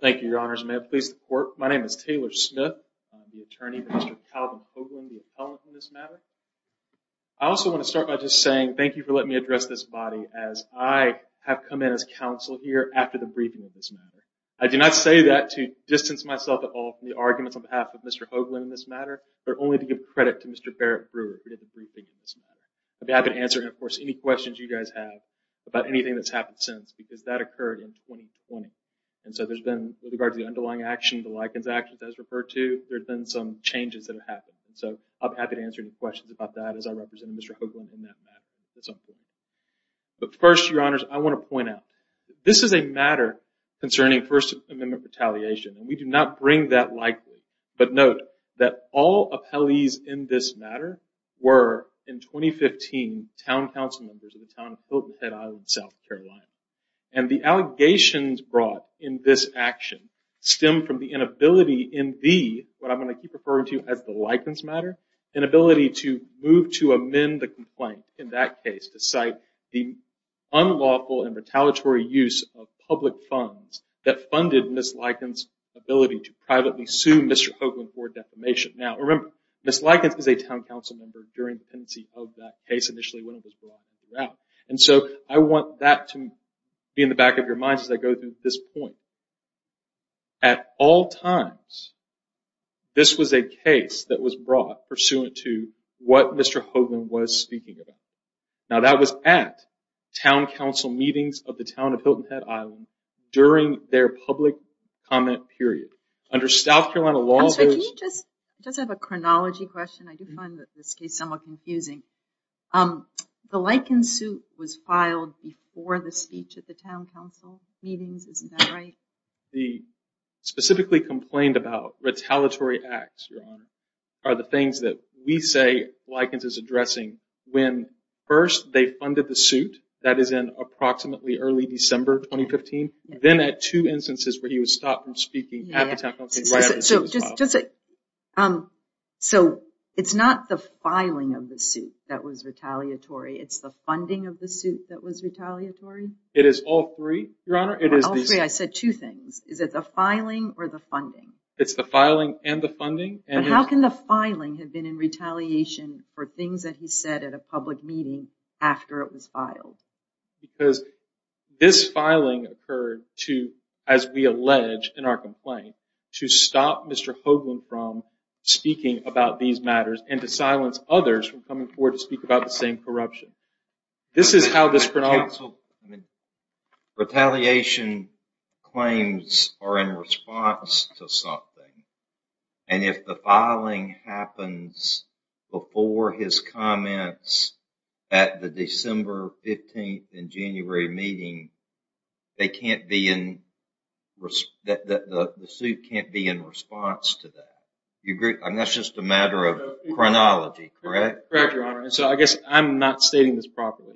Thank you, Your Honors. May it please the Court, my name is Taylor Smith. I'm the attorney for Mr. Calvin Hoagland, the appellant in this matter. I also want to start by just saying thank you for letting me address this body as I have come in as counsel here after the briefing of this matter. I do not say that to distance myself at all from the arguments on behalf of Mr. Hoagland in this matter. They're only to give credit to Mr. Barrett Brewer who did the briefing in this matter. I'd be happy to answer any questions you guys have about anything that's happened since because that occurred in 2020. And so there's been, with regard to the underlying action, the Likens action that it's referred to, there's been some changes that have happened. So I'd be happy to answer any questions about that as I represent Mr. Hoagland in that matter at some point. But first, Your Honors, I want to point out that this is a matter concerning First Amendment retaliation. And we do not bring that lightly. But note that all appellees in this matter were, in 2015, town council members of the town of Philippine Head Island, South Carolina. And the allegations brought in this action stem from the inability in the, what I'm going to keep referring to as the Likens matter, inability to move to amend the complaint in that case to cite the unlawful and retaliatory use of public funds that funded Ms. Likens' ability to privately sue Mr. Hoagland for defamation. Now, remember, Ms. Likens is a town council member during the pendency of that case initially when it was brought to the route. And so I want that to be in the back of your minds as I go through this point. At all times, this was a case that was brought pursuant to what Mr. Hoagland was speaking about. Now, that was at town council meetings of the town of Hilton Head Island during their public comment period. Under South Carolina law, those – I'm sorry, can you just – I just have a chronology question. I do find this case somewhat confusing. The Likens suit was filed before the speech at the town council meetings. Isn't that right? The specifically complained about retaliatory acts, Your Honor, are the things that we say Likens is addressing when first they funded the suit, that is in approximately early December 2015, then at two instances where he was stopped from speaking at the town council meetings right after the suit was filed. So it's not the filing of the suit that was retaliatory. It's the funding of the suit that was retaliatory? It is all three, Your Honor. All three. I said two things. Is it the filing or the funding? It's the filing and the funding. But how can the filing have been in retaliation for things that he said at a public meeting after it was filed? Because this filing occurred to, as we allege in our complaint, to stop Mr. Hoagland from speaking about these matters and to silence others from coming forward to speak about the same corruption. This is how this chronology – The council retaliation claims are in response to something. And if the filing happens before his comments at the December 15th and January meeting, the suit can't be in response to that. That's just a matter of chronology, correct? Correct, Your Honor. So I guess I'm not stating this properly.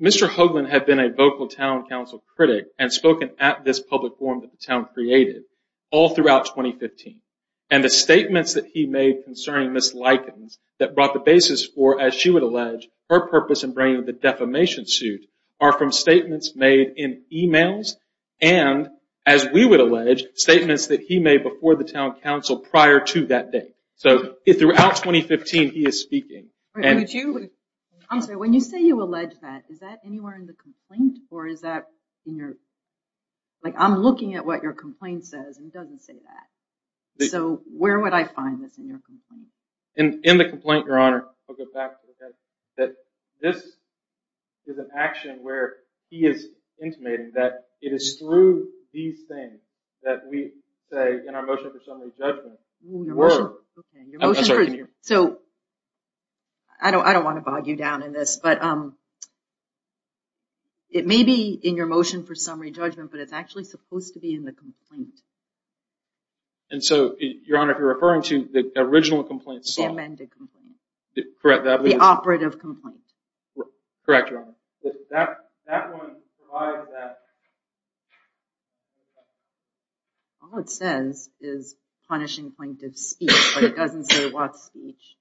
Mr. Hoagland had been a vocal town council critic and spoken at this public forum that the town created all throughout 2015. And the statements that he made concerning Ms. Likens that brought the basis for, as she would allege, her purpose in bringing the defamation suit are from statements made in e-mails and, as we would allege, statements that he made before the town council prior to that date. So throughout 2015, he is speaking. I'm sorry, when you say you allege that, is that anywhere in the complaint? Or is that in your – Like, I'm looking at what your complaint says and it doesn't say that. So where would I find this in your complaint? In the complaint, Your Honor, I'll get back to it. This is an action where he is intimating that it is through these things that we say in our motion for summary judgment – Your motion – Okay, your motion – I'm sorry, can you – So, I don't want to bog you down in this, but it may be in your motion for summary judgment, but it's actually supposed to be in the complaint. And so, Your Honor, if you're referring to the original complaint – The amended complaint. Correct, that was – The operative complaint. Correct, Your Honor. That one provides that – All it says is punishing plaintiff's speech, but it doesn't say what speech.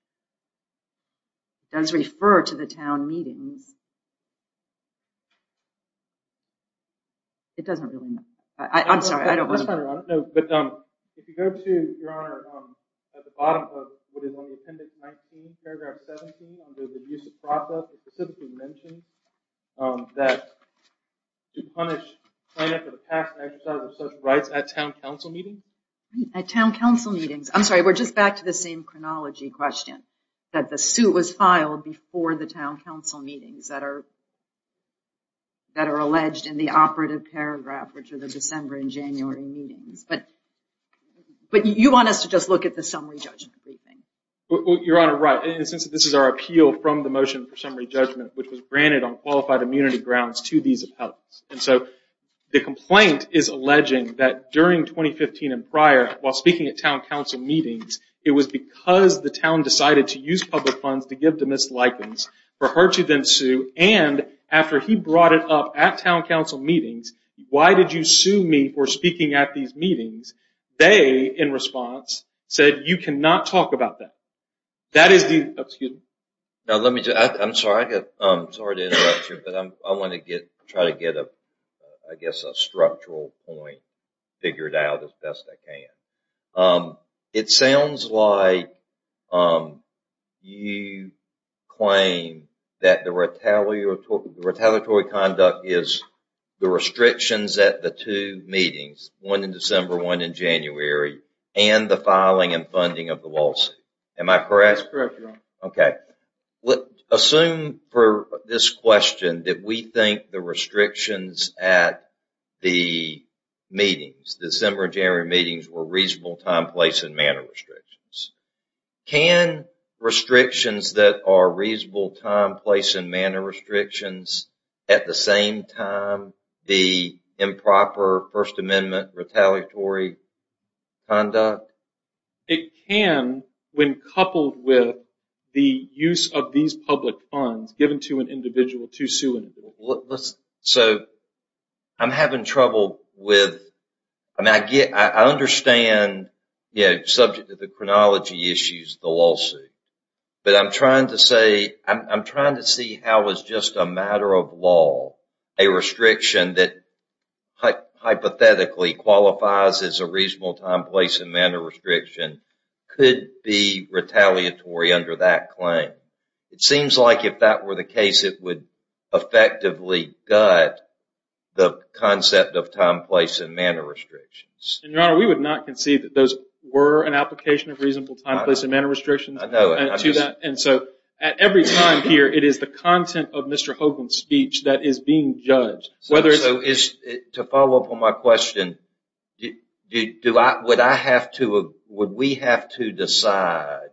It does refer to the town meetings. It doesn't really matter. I'm sorry, I don't want to – No, but if you go to, Your Honor, at the bottom of what is on the appendix 19, paragraph 17, under the use of process, it specifically mentions that to punish plaintiff for the past exercise of social rights at town council meetings. At town council meetings. I'm sorry, we're just back to the same chronology question, that the suit was filed before the town council meetings that are alleged in the operative paragraph, which are the December and January meetings. But you want us to just look at the summary judgment briefing. Well, Your Honor, right. And since this is our appeal from the motion for summary judgment, which was granted on qualified immunity grounds to these appellants. And so, the complaint is alleging that during 2015 and prior, while speaking at town council meetings, it was because the town decided to use public funds to give to Ms. Likens for her to then sue. And after he brought it up at town council meetings, why did you sue me for speaking at these meetings? They, in response, said you cannot talk about that. I'm sorry to interrupt you, but I want to try to get a structural point figured out as best I can. It sounds like you claim that the retaliatory conduct is the restrictions at the two meetings, one in December, one in January, and the filing and funding of the lawsuit. Am I correct? Correct, Your Honor. Okay. Assume, for this question, that we think the restrictions at the meetings, December and January meetings, were reasonable time, place, and manner restrictions. Can restrictions that are reasonable time, place, and manner restrictions at the same time be improper First Amendment retaliatory conduct? It can when coupled with the use of these public funds given to an individual to sue an individual. So, I'm having trouble with... I understand, subject to the chronology issues, the lawsuit. But I'm trying to see how, as just a matter of law, a restriction that hypothetically qualifies as a reasonable time, place, and manner restriction could be retaliatory under that claim. It seems like if that were the case, it would effectively gut the concept of time, place, and manner restrictions. Your Honor, we would not concede that those were an application of reasonable time, place, and manner restrictions. I know. And so, at every time here, it is the content of Mr. Hogan's speech that is being judged. To follow up on my question, would we have to decide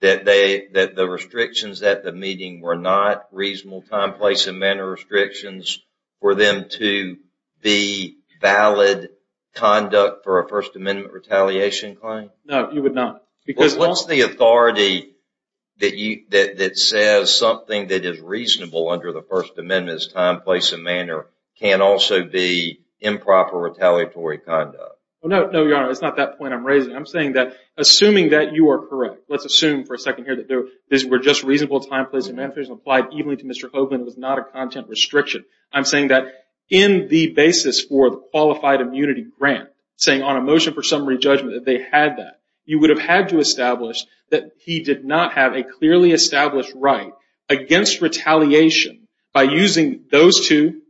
that the restrictions at the meeting were not reasonable time, place, and manner restrictions for them to be valid conduct for a First Amendment retaliation claim? No, you would not. What's the authority that says something that is reasonable can also be improper retaliatory conduct? No, Your Honor, it's not that point I'm raising. I'm saying that, assuming that you are correct, let's assume for a second here that these were just reasonable time, place, and manner restrictions applied evenly to Mr. Hogan and was not a content restriction. I'm saying that in the basis for the qualified immunity grant, saying on a motion for summary judgment that they had that, you would have had to establish that he did not have a clearly established right against retaliation by using those two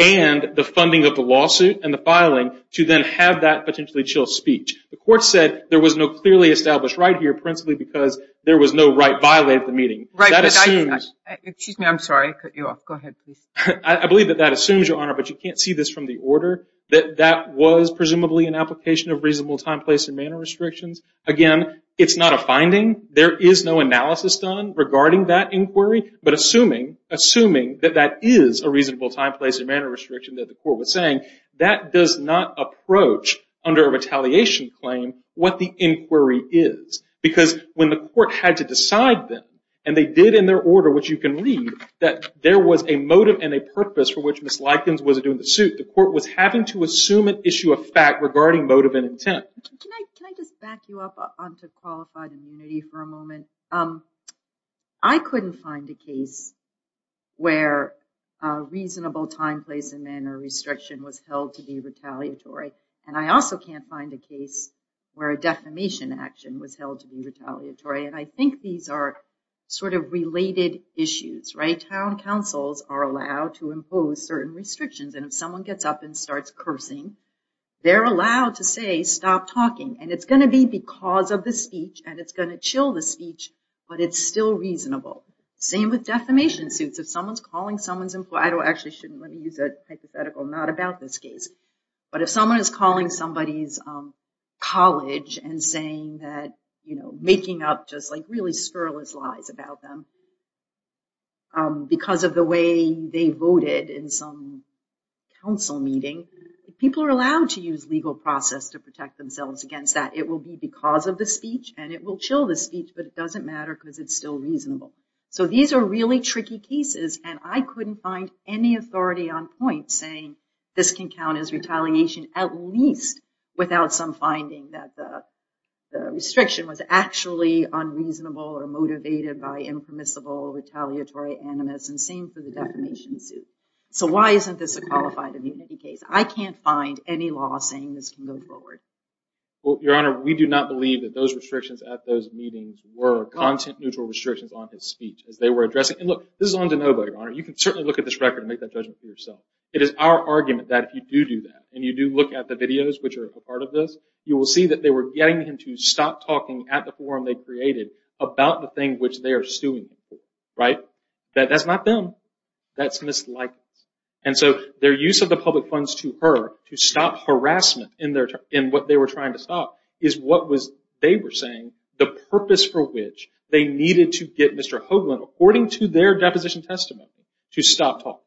and the funding of the lawsuit and the filing to then have that potentially chilled speech. The court said there was no clearly established right here, principally because there was no right violated at the meeting. Excuse me, I'm sorry. I cut you off. Go ahead, please. I believe that that assumes, Your Honor, but you can't see this from the order, that that was presumably an application of reasonable time, place, and manner restrictions. Again, it's not a finding. There is no analysis done regarding that inquiry, but assuming that that is a reasonable time, place, and manner restriction that the court was saying, that does not approach, under a retaliation claim, what the inquiry is. Because when the court had to decide then, and they did in their order, which you can read, that there was a motive and a purpose for which Ms. Likens wasn't doing the suit, the court was having to assume an issue of fact regarding motive and intent. Can I just back you up onto qualified immunity for a moment? I couldn't find a case where a reasonable time, place, and manner restriction was held to be retaliatory. And I also can't find a case where a defamation action was held to be retaliatory. And I think these are sort of related issues, right? Town councils are allowed to impose certain restrictions, and if someone gets up and starts cursing, they're allowed to say, stop talking. And it's going to be because of the speech, and it's going to chill the speech, but it's still reasonable. Same with defamation suits. If someone's calling someone's employer, I actually shouldn't use that hypothetical, not about this case, but if someone is calling somebody's college and saying that, you know, making up just like really scurrilous lies about them, because of the way they voted in some council meeting, people are allowed to use legal process to protect themselves against that. It will be because of the speech, and it will chill the speech, but it doesn't matter because it's still reasonable. So these are really tricky cases, and I couldn't find any authority on point saying this can count as retaliation, at least without some finding that the restriction was actually unreasonable or motivated by impermissible retaliatory animus, and same for the defamation suit. So why isn't this a qualified immunity case? I can't find any law saying this can go forward. Well, Your Honor, we do not believe that those restrictions at those meetings were content-neutral restrictions on his speech as they were addressing. And look, this is on DeNova, Your Honor. You can certainly look at this record and make that judgment for yourself. It is our argument that if you do do that, and you do look at the videos which are a part of this, you will see that they were getting him to stop talking at the forum they created about the thing which they are suing them for, right? That's not them. That's Ms. Likens. And so their use of the public funds to her to stop harassment in what they were trying to stop is what they were saying the purpose for which they needed to get Mr. Hoagland, according to their deposition testimony, to stop talking.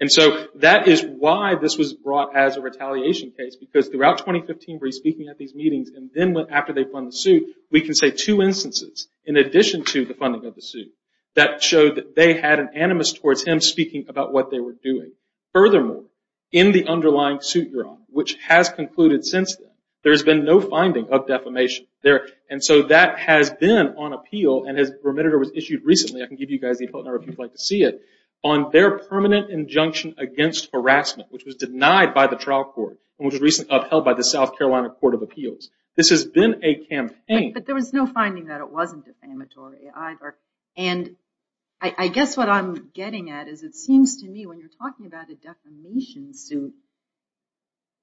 And so that is why this was brought as a retaliation case, because throughout 2015 where he's speaking at these meetings, and then after they fund the suit, we can say two instances, in addition to the funding of the suit, that showed that they had an animus towards him speaking about what they were doing. Furthermore, in the underlying suit, Your Honor, which has concluded since then, there's been no finding of defamation there. And so that has been on appeal and has permitted or was issued recently, I can give you guys the phone number if you'd like to see it, on their permanent injunction against harassment, which was denied by the trial court, and was recently upheld by the South Carolina Court of Appeals. This has been a campaign. But there was no finding that it wasn't defamatory either. And I guess what I'm getting at is it seems to me, when you're talking about a defamation suit,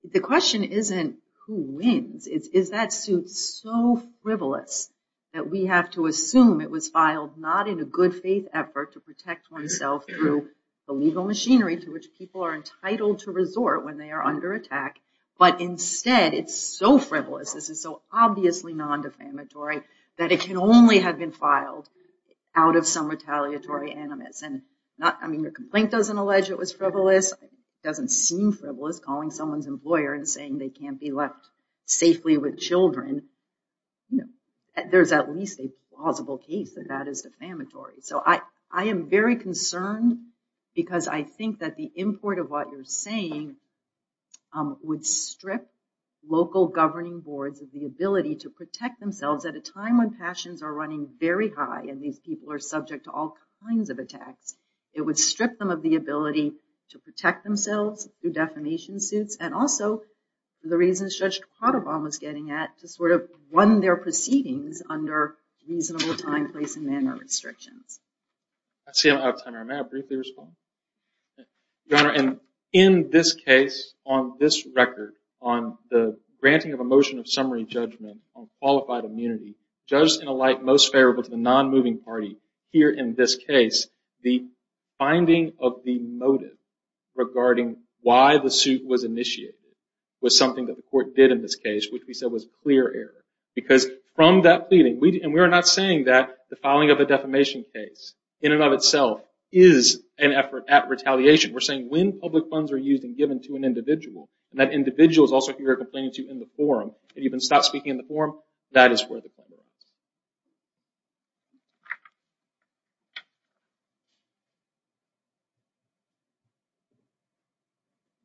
the question isn't who wins, it's is that suit so frivolous that we have to assume it was filed not in a good faith effort to protect oneself through the legal machinery to which people are entitled to resort when they are under attack, but instead it's so frivolous, this is so obviously non-defamatory, that it can only have been filed out of some retaliatory animus. And the complaint doesn't allege it was frivolous, it doesn't seem frivolous calling someone's employer and saying they can't be left safely with children. There's at least a plausible case that that is defamatory. So I am very concerned because I think that the import of what you're saying would strip local governing boards of the ability to protect themselves at a time when passions are running very high and these people are subject to all kinds of attacks. It would strip them of the ability to protect themselves through defamation suits and also the reasons Judge Quattlebaum was getting at to sort of run their proceedings under reasonable time, place, and manner restrictions. I see I'm out of time. May I briefly respond? Your Honor, in this case, on this record, on the granting of a motion of summary judgment on qualified immunity, judged in a light most favorable to the non-moving party, here in this case, the finding of the motive regarding why the suit was initiated was something that the court did in this case, which we said was clear error. Because from that pleading, and we're not saying that the filing of a defamation case in and of itself is an effort at retaliation. We're saying when public funds are used and given to an individual and that individual is also who you're complaining to in the forum. If you can stop speaking in the forum, that is where the problem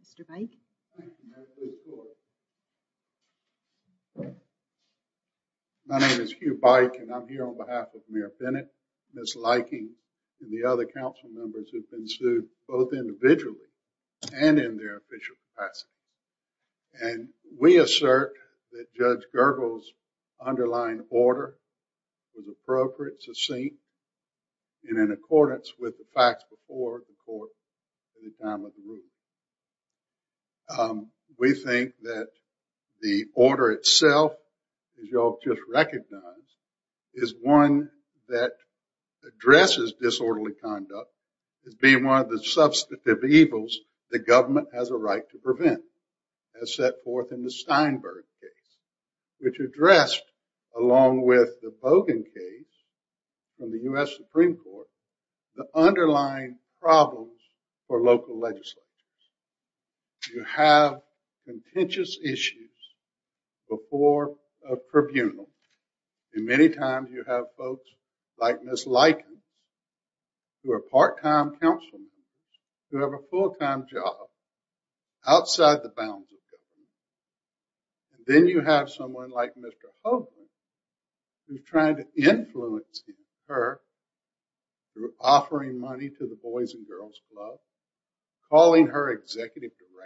is. Mr. Byke? Thank you, ma'am. Please go ahead. My name is Hugh Byke, and I'm here on behalf of Mayor Bennett, Ms. Liking, and the other council members who have been sued, both individually and in their official capacity. And we assert that Judge Gergel's underlying order was appropriate, succinct, and in accordance with the facts before the court at the time of the ruling. We think that the order itself, as you all just recognized, is one that addresses disorderly conduct, as being one of the substantive evils the government has a right to prevent, as set forth in the Steinberg case, which addressed, along with the Bogan case from the U.S. Supreme Court, the underlying problems for local legislators. You have contentious issues before a tribunal, and many times you have folks like Ms. Liking, who are part-time council members, who have a full-time job, outside the bounds of government. Then you have someone like Mr. Hogan, who's trying to influence her through offering money to the Boys and Girls Club, calling her executive director,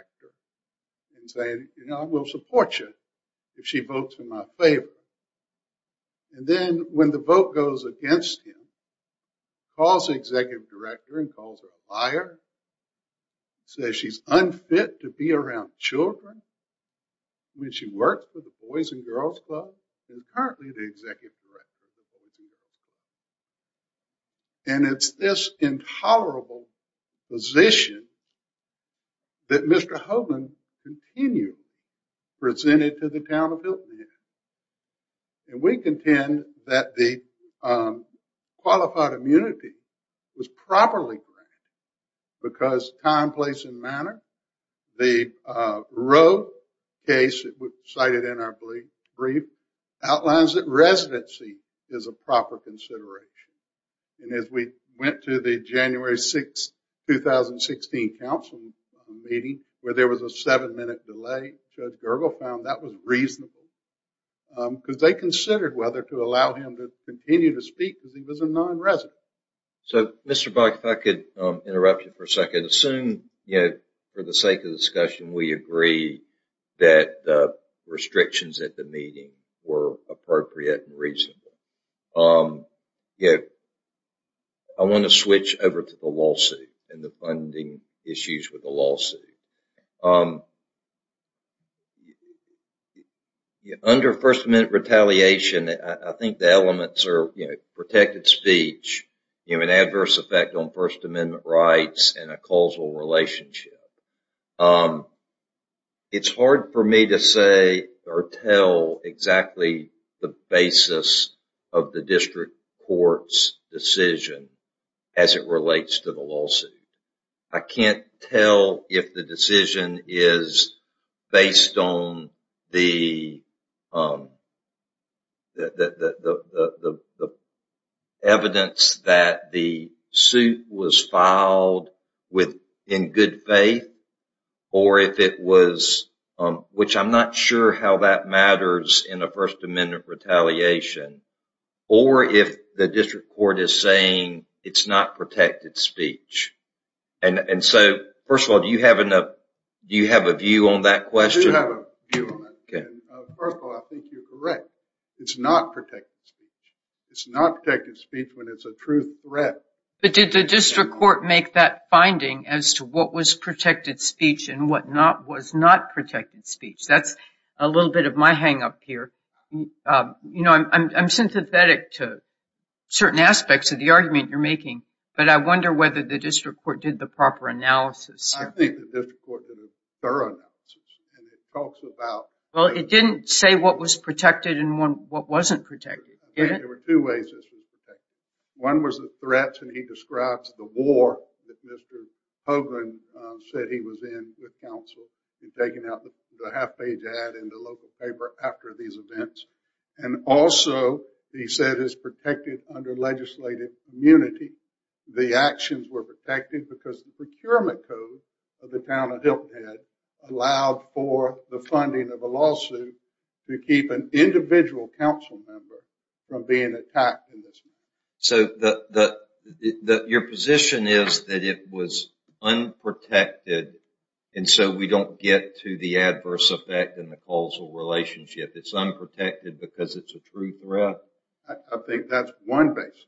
and saying, you know, I will support you if she votes in my favor. And then, when the vote goes against him, calls the executive director and calls her a liar, says she's unfit to be around children, when she works for the Boys and Girls Club, and is currently the executive director of the Boys and Girls Club. And it's this intolerable position that Mr. Hogan continued, presented to the town of Hilton Head. And we contend that the qualified immunity was properly granted, because time, place, and manner. The Rowe case, cited in our brief, outlines that residency is a proper consideration. And as we went to the January 6, 2016 council meeting, where there was a seven-minute delay, Judge Gergel found that was reasonable, because they considered whether to allow him to continue to speak, because he was a non-resident. So, Mr. Boggs, if I could interrupt you for a second. Assume, you know, for the sake of discussion, we agree that the restrictions at the meeting were appropriate and reasonable. You know, I want to switch over to the lawsuit, and the funding issues with the lawsuit. Under First Amendment retaliation, I think the elements are, you know, protected speech, an adverse effect on First Amendment rights, and a causal relationship. It's hard for me to say or tell exactly the basis of the district court's decision as it relates to the lawsuit. I can't tell if the decision is based on the evidence that the suit was filed in good faith, or if it was, which I'm not sure how that matters in a First Amendment retaliation, or if the district court is saying it's not protected speech. And so, first of all, do you have a view on that question? I do have a view on it. First of all, I think you're correct. It's not protected speech. It's not protected speech when it's a true threat. But did the district court make that finding as to what was protected speech and what was not protected speech? That's a little bit of my hang-up here. You know, I'm sympathetic to certain aspects of the argument you're making, but I wonder whether the district court did the proper analysis. I think the district court did a thorough analysis, and it talks about… Well, it didn't say what was protected and what wasn't protected, did it? There were two ways this was protected. One was the threats, and he describes the war that Mr. Pogren said he was in with counsel in taking out the half-page ad in the local paper after these events. And also, he said it's protected under legislative immunity. The actions were protected because the procurement code of the town of Hilton Head allowed for the funding of a lawsuit to keep an individual council member from being attacked in this way. So your position is that it was unprotected, and so we don't get to the adverse effect and the causal relationship. It's unprotected because it's a true threat? I think that's one basis.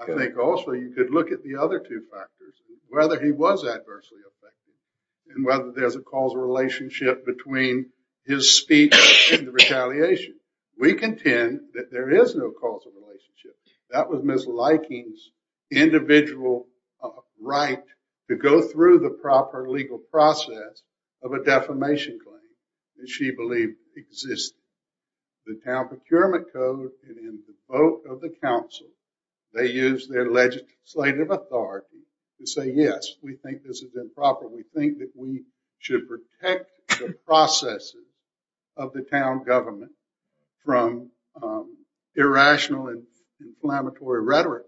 I think also you could look at the other two factors, whether he was adversely affected, and whether there's a causal relationship between his speech and the retaliation. We contend that there is no causal relationship. That was Ms. Liking's individual right to go through the proper legal process of a defamation claim that she believed existed. The town procurement code and in the vote of the council, they used their legislative authority to say, yes, we think this is improper. We think that we should protect the processes of the town government from irrational and inflammatory rhetoric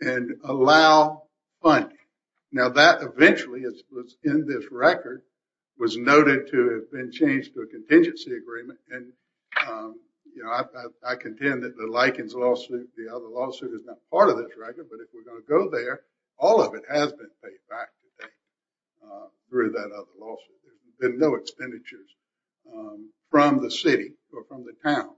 and allow funding. Now that eventually, as was in this record, was noted to have been changed to a contingency agreement, and I contend that the Likings lawsuit, the other lawsuit is not part of this record, but if we're going to go there, all of it has been paid back today through that other lawsuit. There have been no expenditures from the city or from the town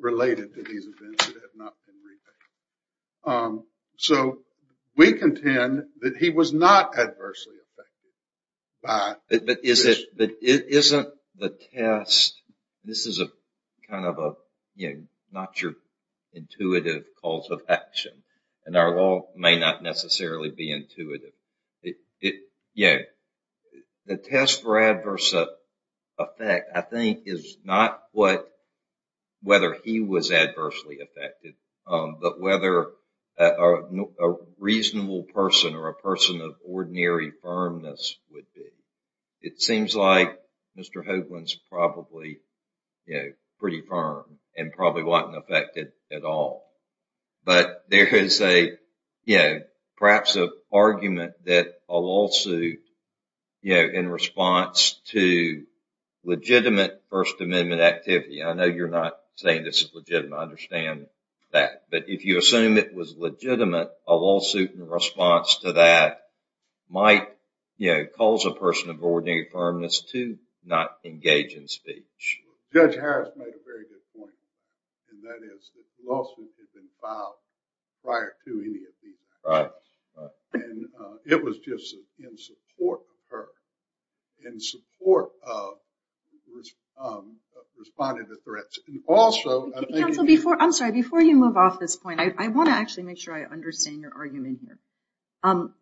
related to these events that have not been repaid. So we contend that he was not adversely affected by this. But isn't the test, this is kind of not your intuitive cause of action, and our law may not necessarily be intuitive. The test for adverse effect, I think, is not whether he was adversely affected, but whether a reasonable person or a person of ordinary firmness would be. It seems like Mr. Hoagland's probably pretty firm and probably wasn't affected at all. But there is perhaps an argument that a lawsuit in response to legitimate First Amendment activity, I know you're not saying this is legitimate, I understand that, but if you assume it was legitimate, a lawsuit in response to that might cause a person of ordinary firmness to not engage in speech. Judge Harris made a very good point, and that is that the lawsuit had been filed prior to any of these events. And it was just in support of her, in support of responding to threats. And also, I think... Counsel, I'm sorry, before you move off this point, I want to actually make sure I understand your argument here.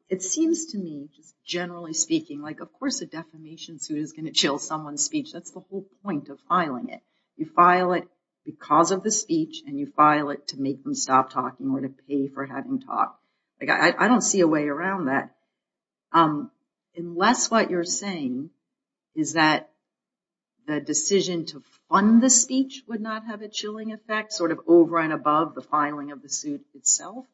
It seems to me, just generally speaking, like of course a defamation suit is going to chill someone's speech, that's the whole point of filing it. You file it because of the speech, and you file it to make them stop talking or to pay for having talked. I don't see a way around that. Unless what you're saying is that the decision to fund the speech would not have a chilling effect, sort of over and above the filing of the suit itself?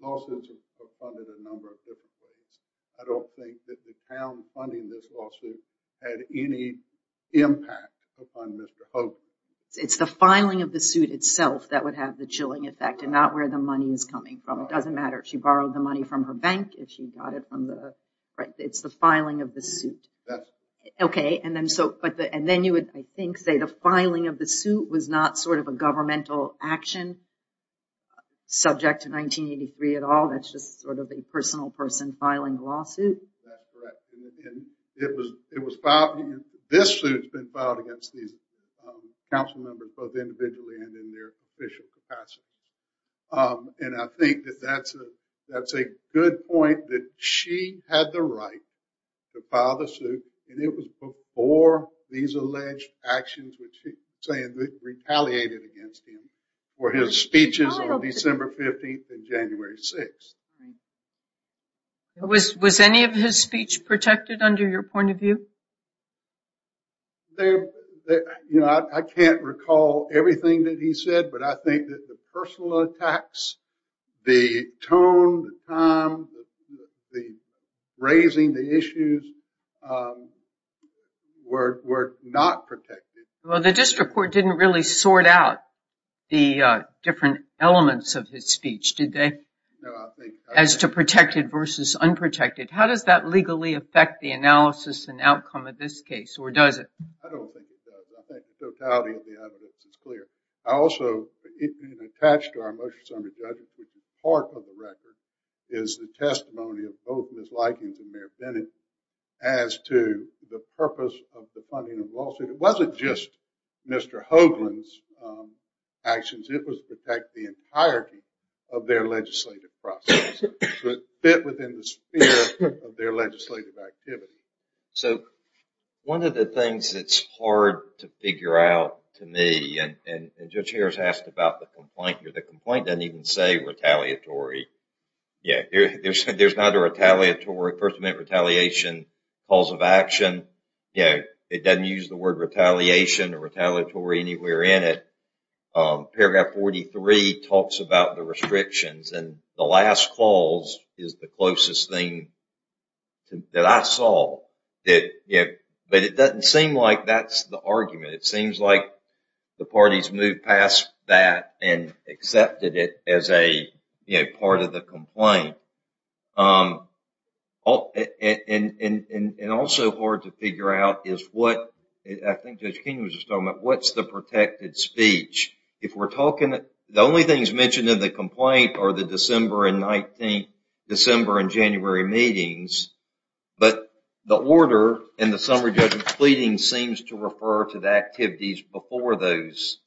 Lawsuits are funded in a number of different ways. I don't think that the town funding this lawsuit had any impact upon Mr. Hogan. It's the filing of the suit itself that would have the chilling effect and not where the money is coming from. It doesn't matter if she borrowed the money from her bank, if she got it from the... It's the filing of the suit. Okay. And then you would, I think, say the filing of the suit was not sort of a governmental action subject to 1983 at all, that's just sort of a personal person filing a lawsuit? That's correct. This suit's been filed against these council members, both individually and in their official capacity. And I think that that's a good point, that she had the right to file the suit, and it was before these alleged actions, which she's saying retaliated against him, were his speeches on December 15th and January 6th. Was any of his speech protected under your point of view? I can't recall everything that he said, but I think that the personal attacks, the tone, the time, the raising the issues were not protected. Well, the district court didn't really sort out the different elements of his speech, did they? No, I think... As to protected versus unprotected. How does that legally affect the analysis and outcome of this case, or does it? I don't think it does. I think the totality of the evidence is clear. I also, attached to our motions under Judges, which is part of the record, is the testimony of both Miss Likens and Mayor Bennett as to the purpose of the funding of the lawsuit. It wasn't just Mr. Hoagland's actions. It was to protect the entirety of their legislative process. So it fit within the sphere of their legislative activity. So, one of the things that's hard to figure out to me, and Judge Harris asked about the complaint here, is that the complaint doesn't even say retaliatory. Yeah, there's not a retaliatory, first-minute retaliation, cause of action. It doesn't use the word retaliation or retaliatory anywhere in it. Paragraph 43 talks about the restrictions, and the last clause is the closest thing that I saw. But it doesn't seem like that's the argument. It seems like the parties moved past that and accepted it as a part of the complaint. And also hard to figure out is what, I think Judge King was just talking about, what's the protected speech? If we're talking, the only things mentioned in the complaint are the December and January meetings, but the order in the summary judgment pleading seems to refer to the activities before those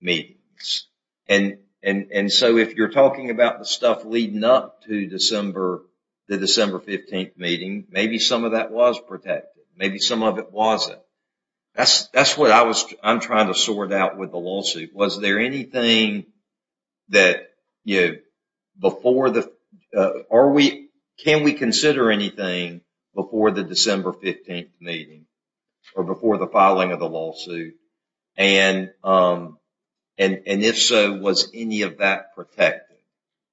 meetings. And so if you're talking about the stuff leading up to the December 15th meeting, maybe some of that was protected. Maybe some of it wasn't. That's what I'm trying to sort out with the lawsuit. Was there anything that, you know, before the, can we consider anything before the December 15th meeting or before the filing of the lawsuit? And if so, was any of that protected?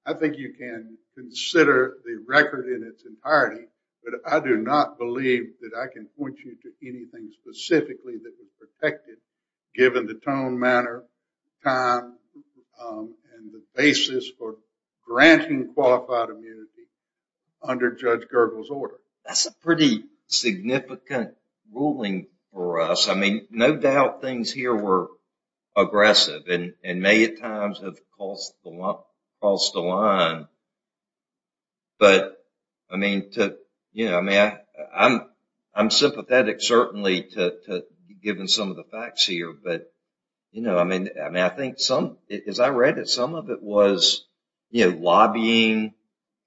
I think you can consider the record in its entirety, but I do not believe that I can point you to anything specifically that was protected given the tone, manner, time, and the basis for granting qualified immunity under Judge Gergel's order. That's a pretty significant ruling for us. I mean, no doubt things here were aggressive and may at times have crossed the line, but I mean, I'm sympathetic certainly to given some of the facts here, but I think as I read it, some of it was, you know, lobbying,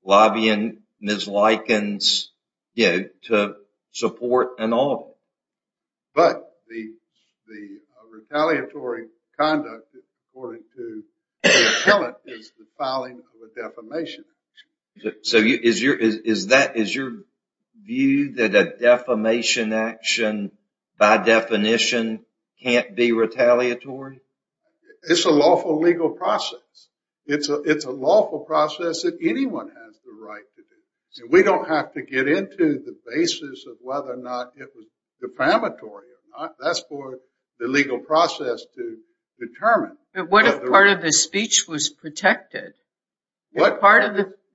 lobbying, mislikings, you know, to support and all. But the retaliatory conduct, according to the appellant, is the filing of a defamation. So is your view that a defamation action by definition can't be retaliatory? It's a lawful legal process. It's a lawful process that anyone has the right to do. We don't have to get into the basis of whether or not it was defamatory or not. That's for the legal process to determine. But what if part of the speech was protected? What?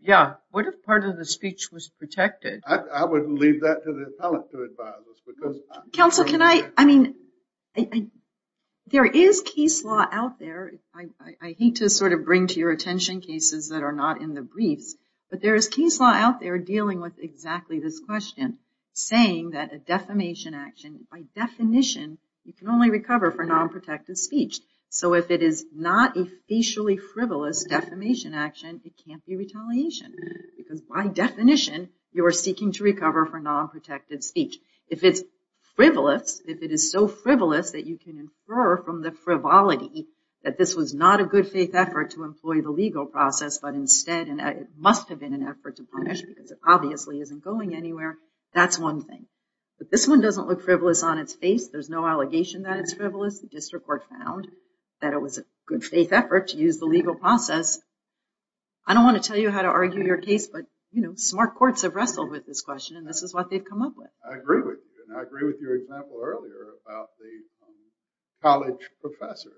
Yeah, what if part of the speech was protected? I would leave that to the appellant to advise us. Counsel, can I, I mean, there is case law out there, I hate to sort of bring to your attention cases that are not in the briefs, but there is case law out there dealing with exactly this question, saying that a defamation action, by definition, you can only recover for non-protective speech. So if it is not a facially frivolous defamation action, it can't be retaliation, because by definition, you are seeking to recover for non-protective speech. If it's frivolous, if it is so frivolous that you can infer from the frivolity that this was not a good faith effort to employ the legal process, but instead it must have been an effort to punish, because it obviously isn't going anywhere, that's one thing. But this one doesn't look frivolous on its face. There's no allegation that it's frivolous. The district court found that it was a good faith effort to use the legal process. I don't want to tell you how to argue your case, but smart courts have wrestled with this question, and this is what they've come up with. I agree with you, and I agree with your example earlier about the college professor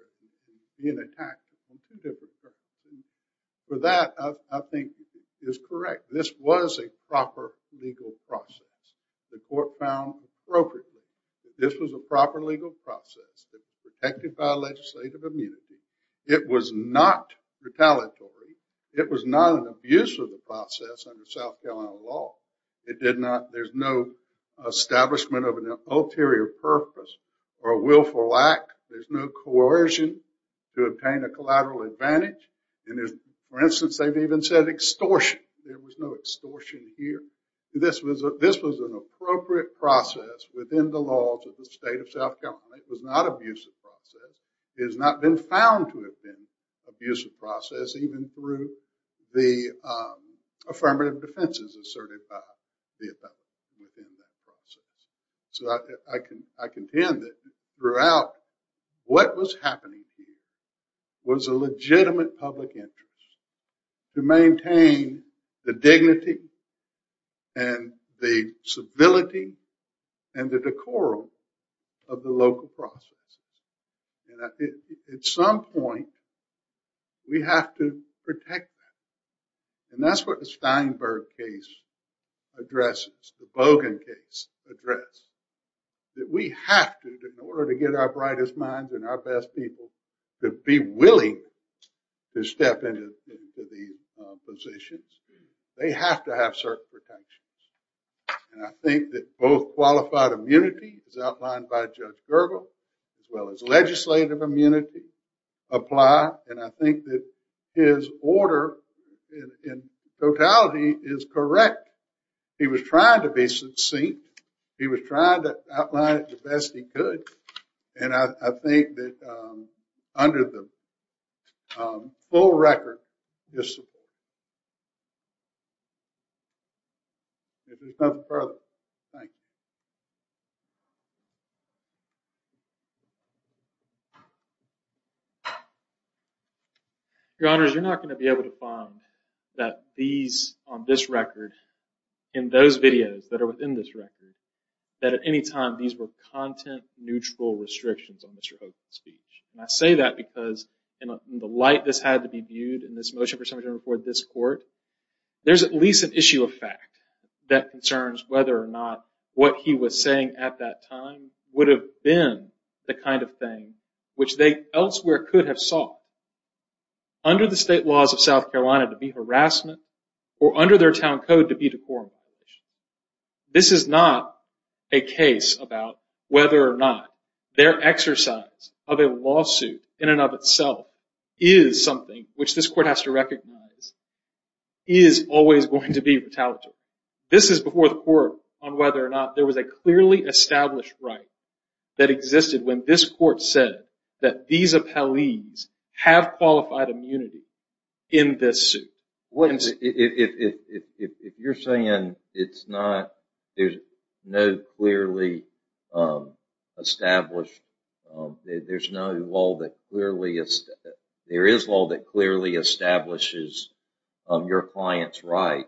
being attacked on two different fronts. For that, I think it is correct. This was a proper legal process. The court found appropriately that this was a proper legal process that was protected by legislative immunity. It was not retaliatory. It was not an abuse of the process under South Carolina law. There's no establishment of an ulterior purpose or a willful lack. There's no coercion to obtain a collateral advantage. For instance, they've even said extortion. There was no extortion here. This was an appropriate process within the laws of the state of South Carolina. It was not an abusive process. It has not been found to have been an abusive process, even through the affirmative defenses asserted by the appellate within that process. So I contend that throughout, what was happening here was a legitimate public interest to maintain the dignity and the civility and the decorum of the local processes. And at some point, we have to protect that. And that's what the Steinberg case addresses, the Bogan case addressed, that we have to, in order to get our brightest minds and our best people to be willing to step into these positions, they have to have certain protections. And I think that both qualified immunity, as outlined by Judge Gerbel, as well as legislative immunity, apply. And I think that his order in totality is correct. He was trying to be succinct. He was trying to outline it the best he could. And I think that under the full record... If there's nothing further, thank you. Thank you. Your Honors, you're not going to be able to find that these, on this record, in those videos that are within this record, that at any time these were content-neutral restrictions on Mr. Hogan's speech. And I say that because in the light this had to be viewed in this motion for somebody to report this court, there's at least an issue of fact that concerns whether or not what he was saying at that time would have been the kind of thing which they elsewhere could have sought under the state laws of South Carolina to be harassment or under their town code to be decorum. This is not a case about whether or not their exercise of a lawsuit in and of itself is something which this court has to recognize is always going to be retaliatory. This is before the court on whether or not there was a clearly established right that existed when this court said that these appellees have qualified immunity in this suit. If you're saying it's not... There's no clearly established... There's no law that clearly... There is law that clearly establishes your client's right.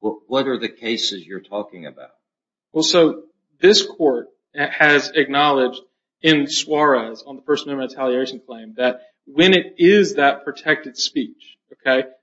What are the cases you're talking about? Well, so this court has acknowledged in Suarez on the First Amendment retaliation claim that when it is that protected speech,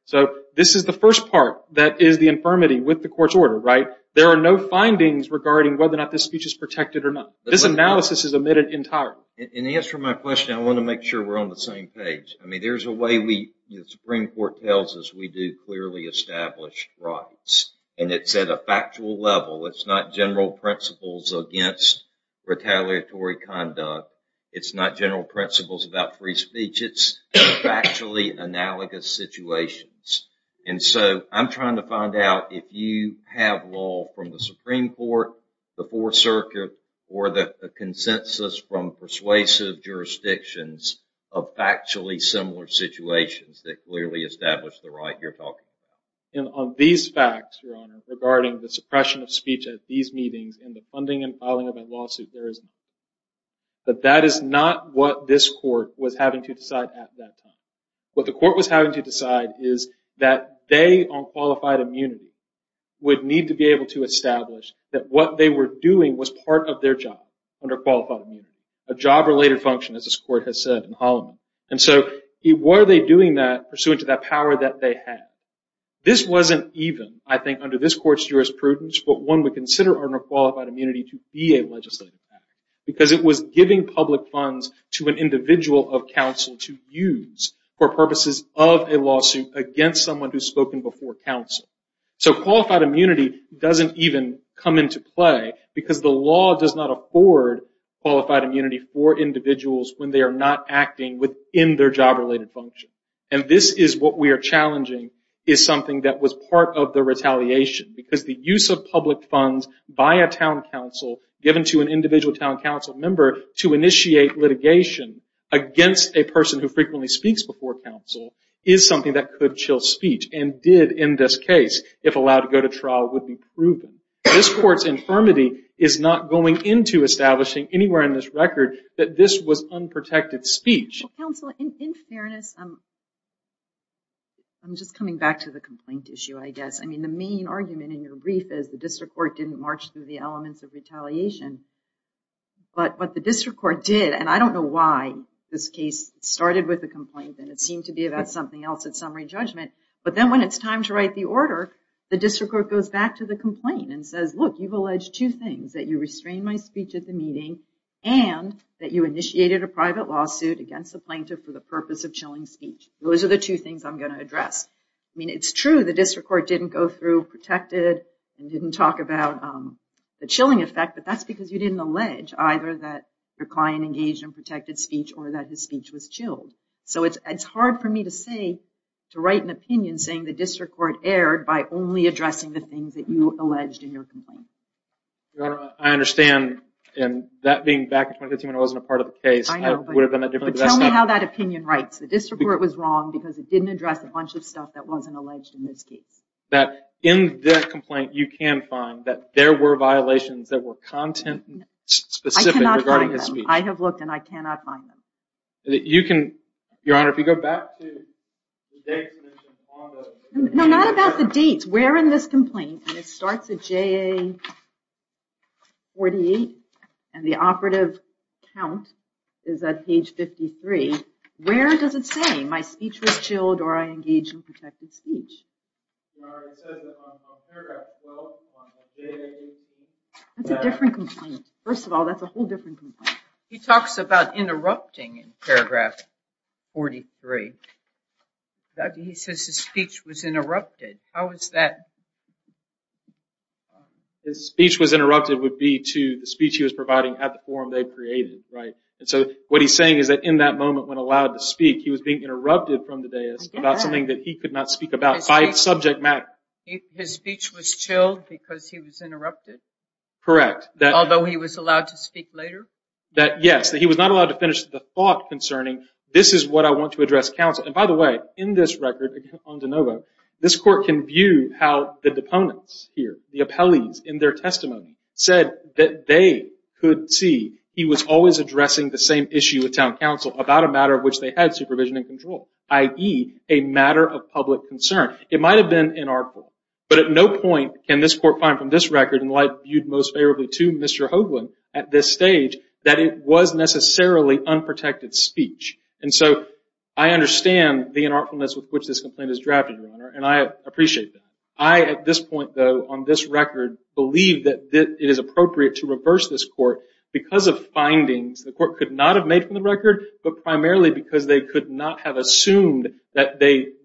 so this is the first part that is the infirmity with the court's order, right? There are no findings regarding whether or not this speech is protected or not. This analysis is omitted entirely. In answer to my question, I want to make sure we're on the same page. There's a way the Supreme Court tells us we do clearly established rights, and it's at a factual level. It's not general principles against retaliatory conduct. It's not general principles about free speech. It's factually analogous situations, and so I'm trying to find out if you have law from the Supreme Court, the Fourth Circuit, or the consensus from persuasive jurisdictions of factually similar situations that clearly establish the right you're talking about. And on these facts, Your Honor, regarding the suppression of speech at these meetings and the funding and filing of a lawsuit, there is none. But that is not what this court was having to decide at that time. What the court was having to decide is that they on qualified immunity would need to be able to establish that what they were doing was part of their job under qualified immunity, a job-related function, as this court has said in Holloman. And so why are they doing that pursuant to that power that they have? This wasn't even, I think, under this court's jurisprudence, what one would consider under qualified immunity to be a legislative act because it was giving public funds to an individual of counsel to use for purposes of a lawsuit against someone who's spoken before counsel. So qualified immunity doesn't even come into play because the law does not afford qualified immunity for individuals when they are not acting within their job-related function. And this is what we are challenging is something that was part of the retaliation because the use of public funds by a town council given to an individual town council member to initiate litigation against a person who frequently speaks before counsel is something that could chill speech and did in this case, if allowed to go to trial, would be proven. This court's infirmity is not going into establishing anywhere in this record that this was unprotected speech. Well, counsel, in fairness, I'm just coming back to the complaint issue, I guess. I mean, the main argument in your brief is the district court didn't march through the elements of retaliation. But what the district court did, and I don't know why this case started with a complaint, and it seemed to be about something else at summary judgment, but then when it's time to write the order, the district court goes back to the complaint and says, look, you've alleged two things, that you restrained my speech at the meeting and that you initiated a private lawsuit against the plaintiff for the purpose of chilling speech. Those are the two things I'm going to address. I mean, it's true the district court didn't go through protected and didn't talk about the chilling effect, but that's because you didn't allege either that your client engaged in protected speech or that his speech was chilled. So it's hard for me to say, to write an opinion saying the district court erred by only addressing the things that you alleged in your complaint. Your Honor, I understand, and that being back in 2015 when I wasn't a part of the case, I would have done that differently. But tell me how that opinion writes. The district court was wrong because it didn't address a bunch of stuff that wasn't alleged in this case. In that complaint, you can find that there were violations that were content-specific regarding his speech. I cannot find them. I have looked and I cannot find them. You can, Your Honor, if you go back to the dates mentioned on the... No, not about the dates. Where in this complaint, and it starts at JA-48 and the operative count is at page 53, where does it say, my speech was chilled or I engaged in protected speech? Your Honor, it says on paragraph 12 on the JA-53. That's a different complaint. First of all, that's a whole different complaint. He talks about interrupting in paragraph 43. He says his speech was interrupted. How is that? His speech was interrupted would be to the speech he was providing at the forum they created. What he's saying is that in that moment when allowed to speak, he was being interrupted from the dais about something that he could not speak about by subject matter. His speech was chilled because he was interrupted? Correct. Although he was allowed to speak later? Yes. He was not allowed to finish the thought concerning this is what I want to address counsel. By the way, in this record, this court can view how the deponents here, the appellees in their testimony, said that they could see he was always addressing the same issue with town council about a matter of which they had supervision and control, i.e., a matter of public concern. It might have been inartful, but at no point can this court find from this record in light viewed most favorably to Mr. Hoagland at this stage that it was necessarily unprotected speech. I understand the inartfulness with which this complaint is drafted, Your Honor, and I appreciate that. I, at this point, though, on this record, believe that it is appropriate to reverse this court because of findings the court could not have made from the record, but primarily because they could not have assumed that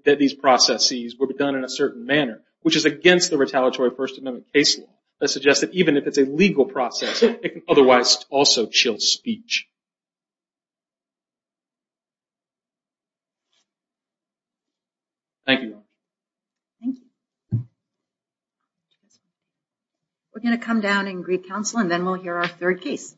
these processes were done in a certain manner, which is against the retaliatory First Amendment case law that suggests that even if it's a legal process, it can otherwise also chill speech. Thank you, Your Honor. Thank you. We're going to come down and agree counsel, and then we'll hear our third case.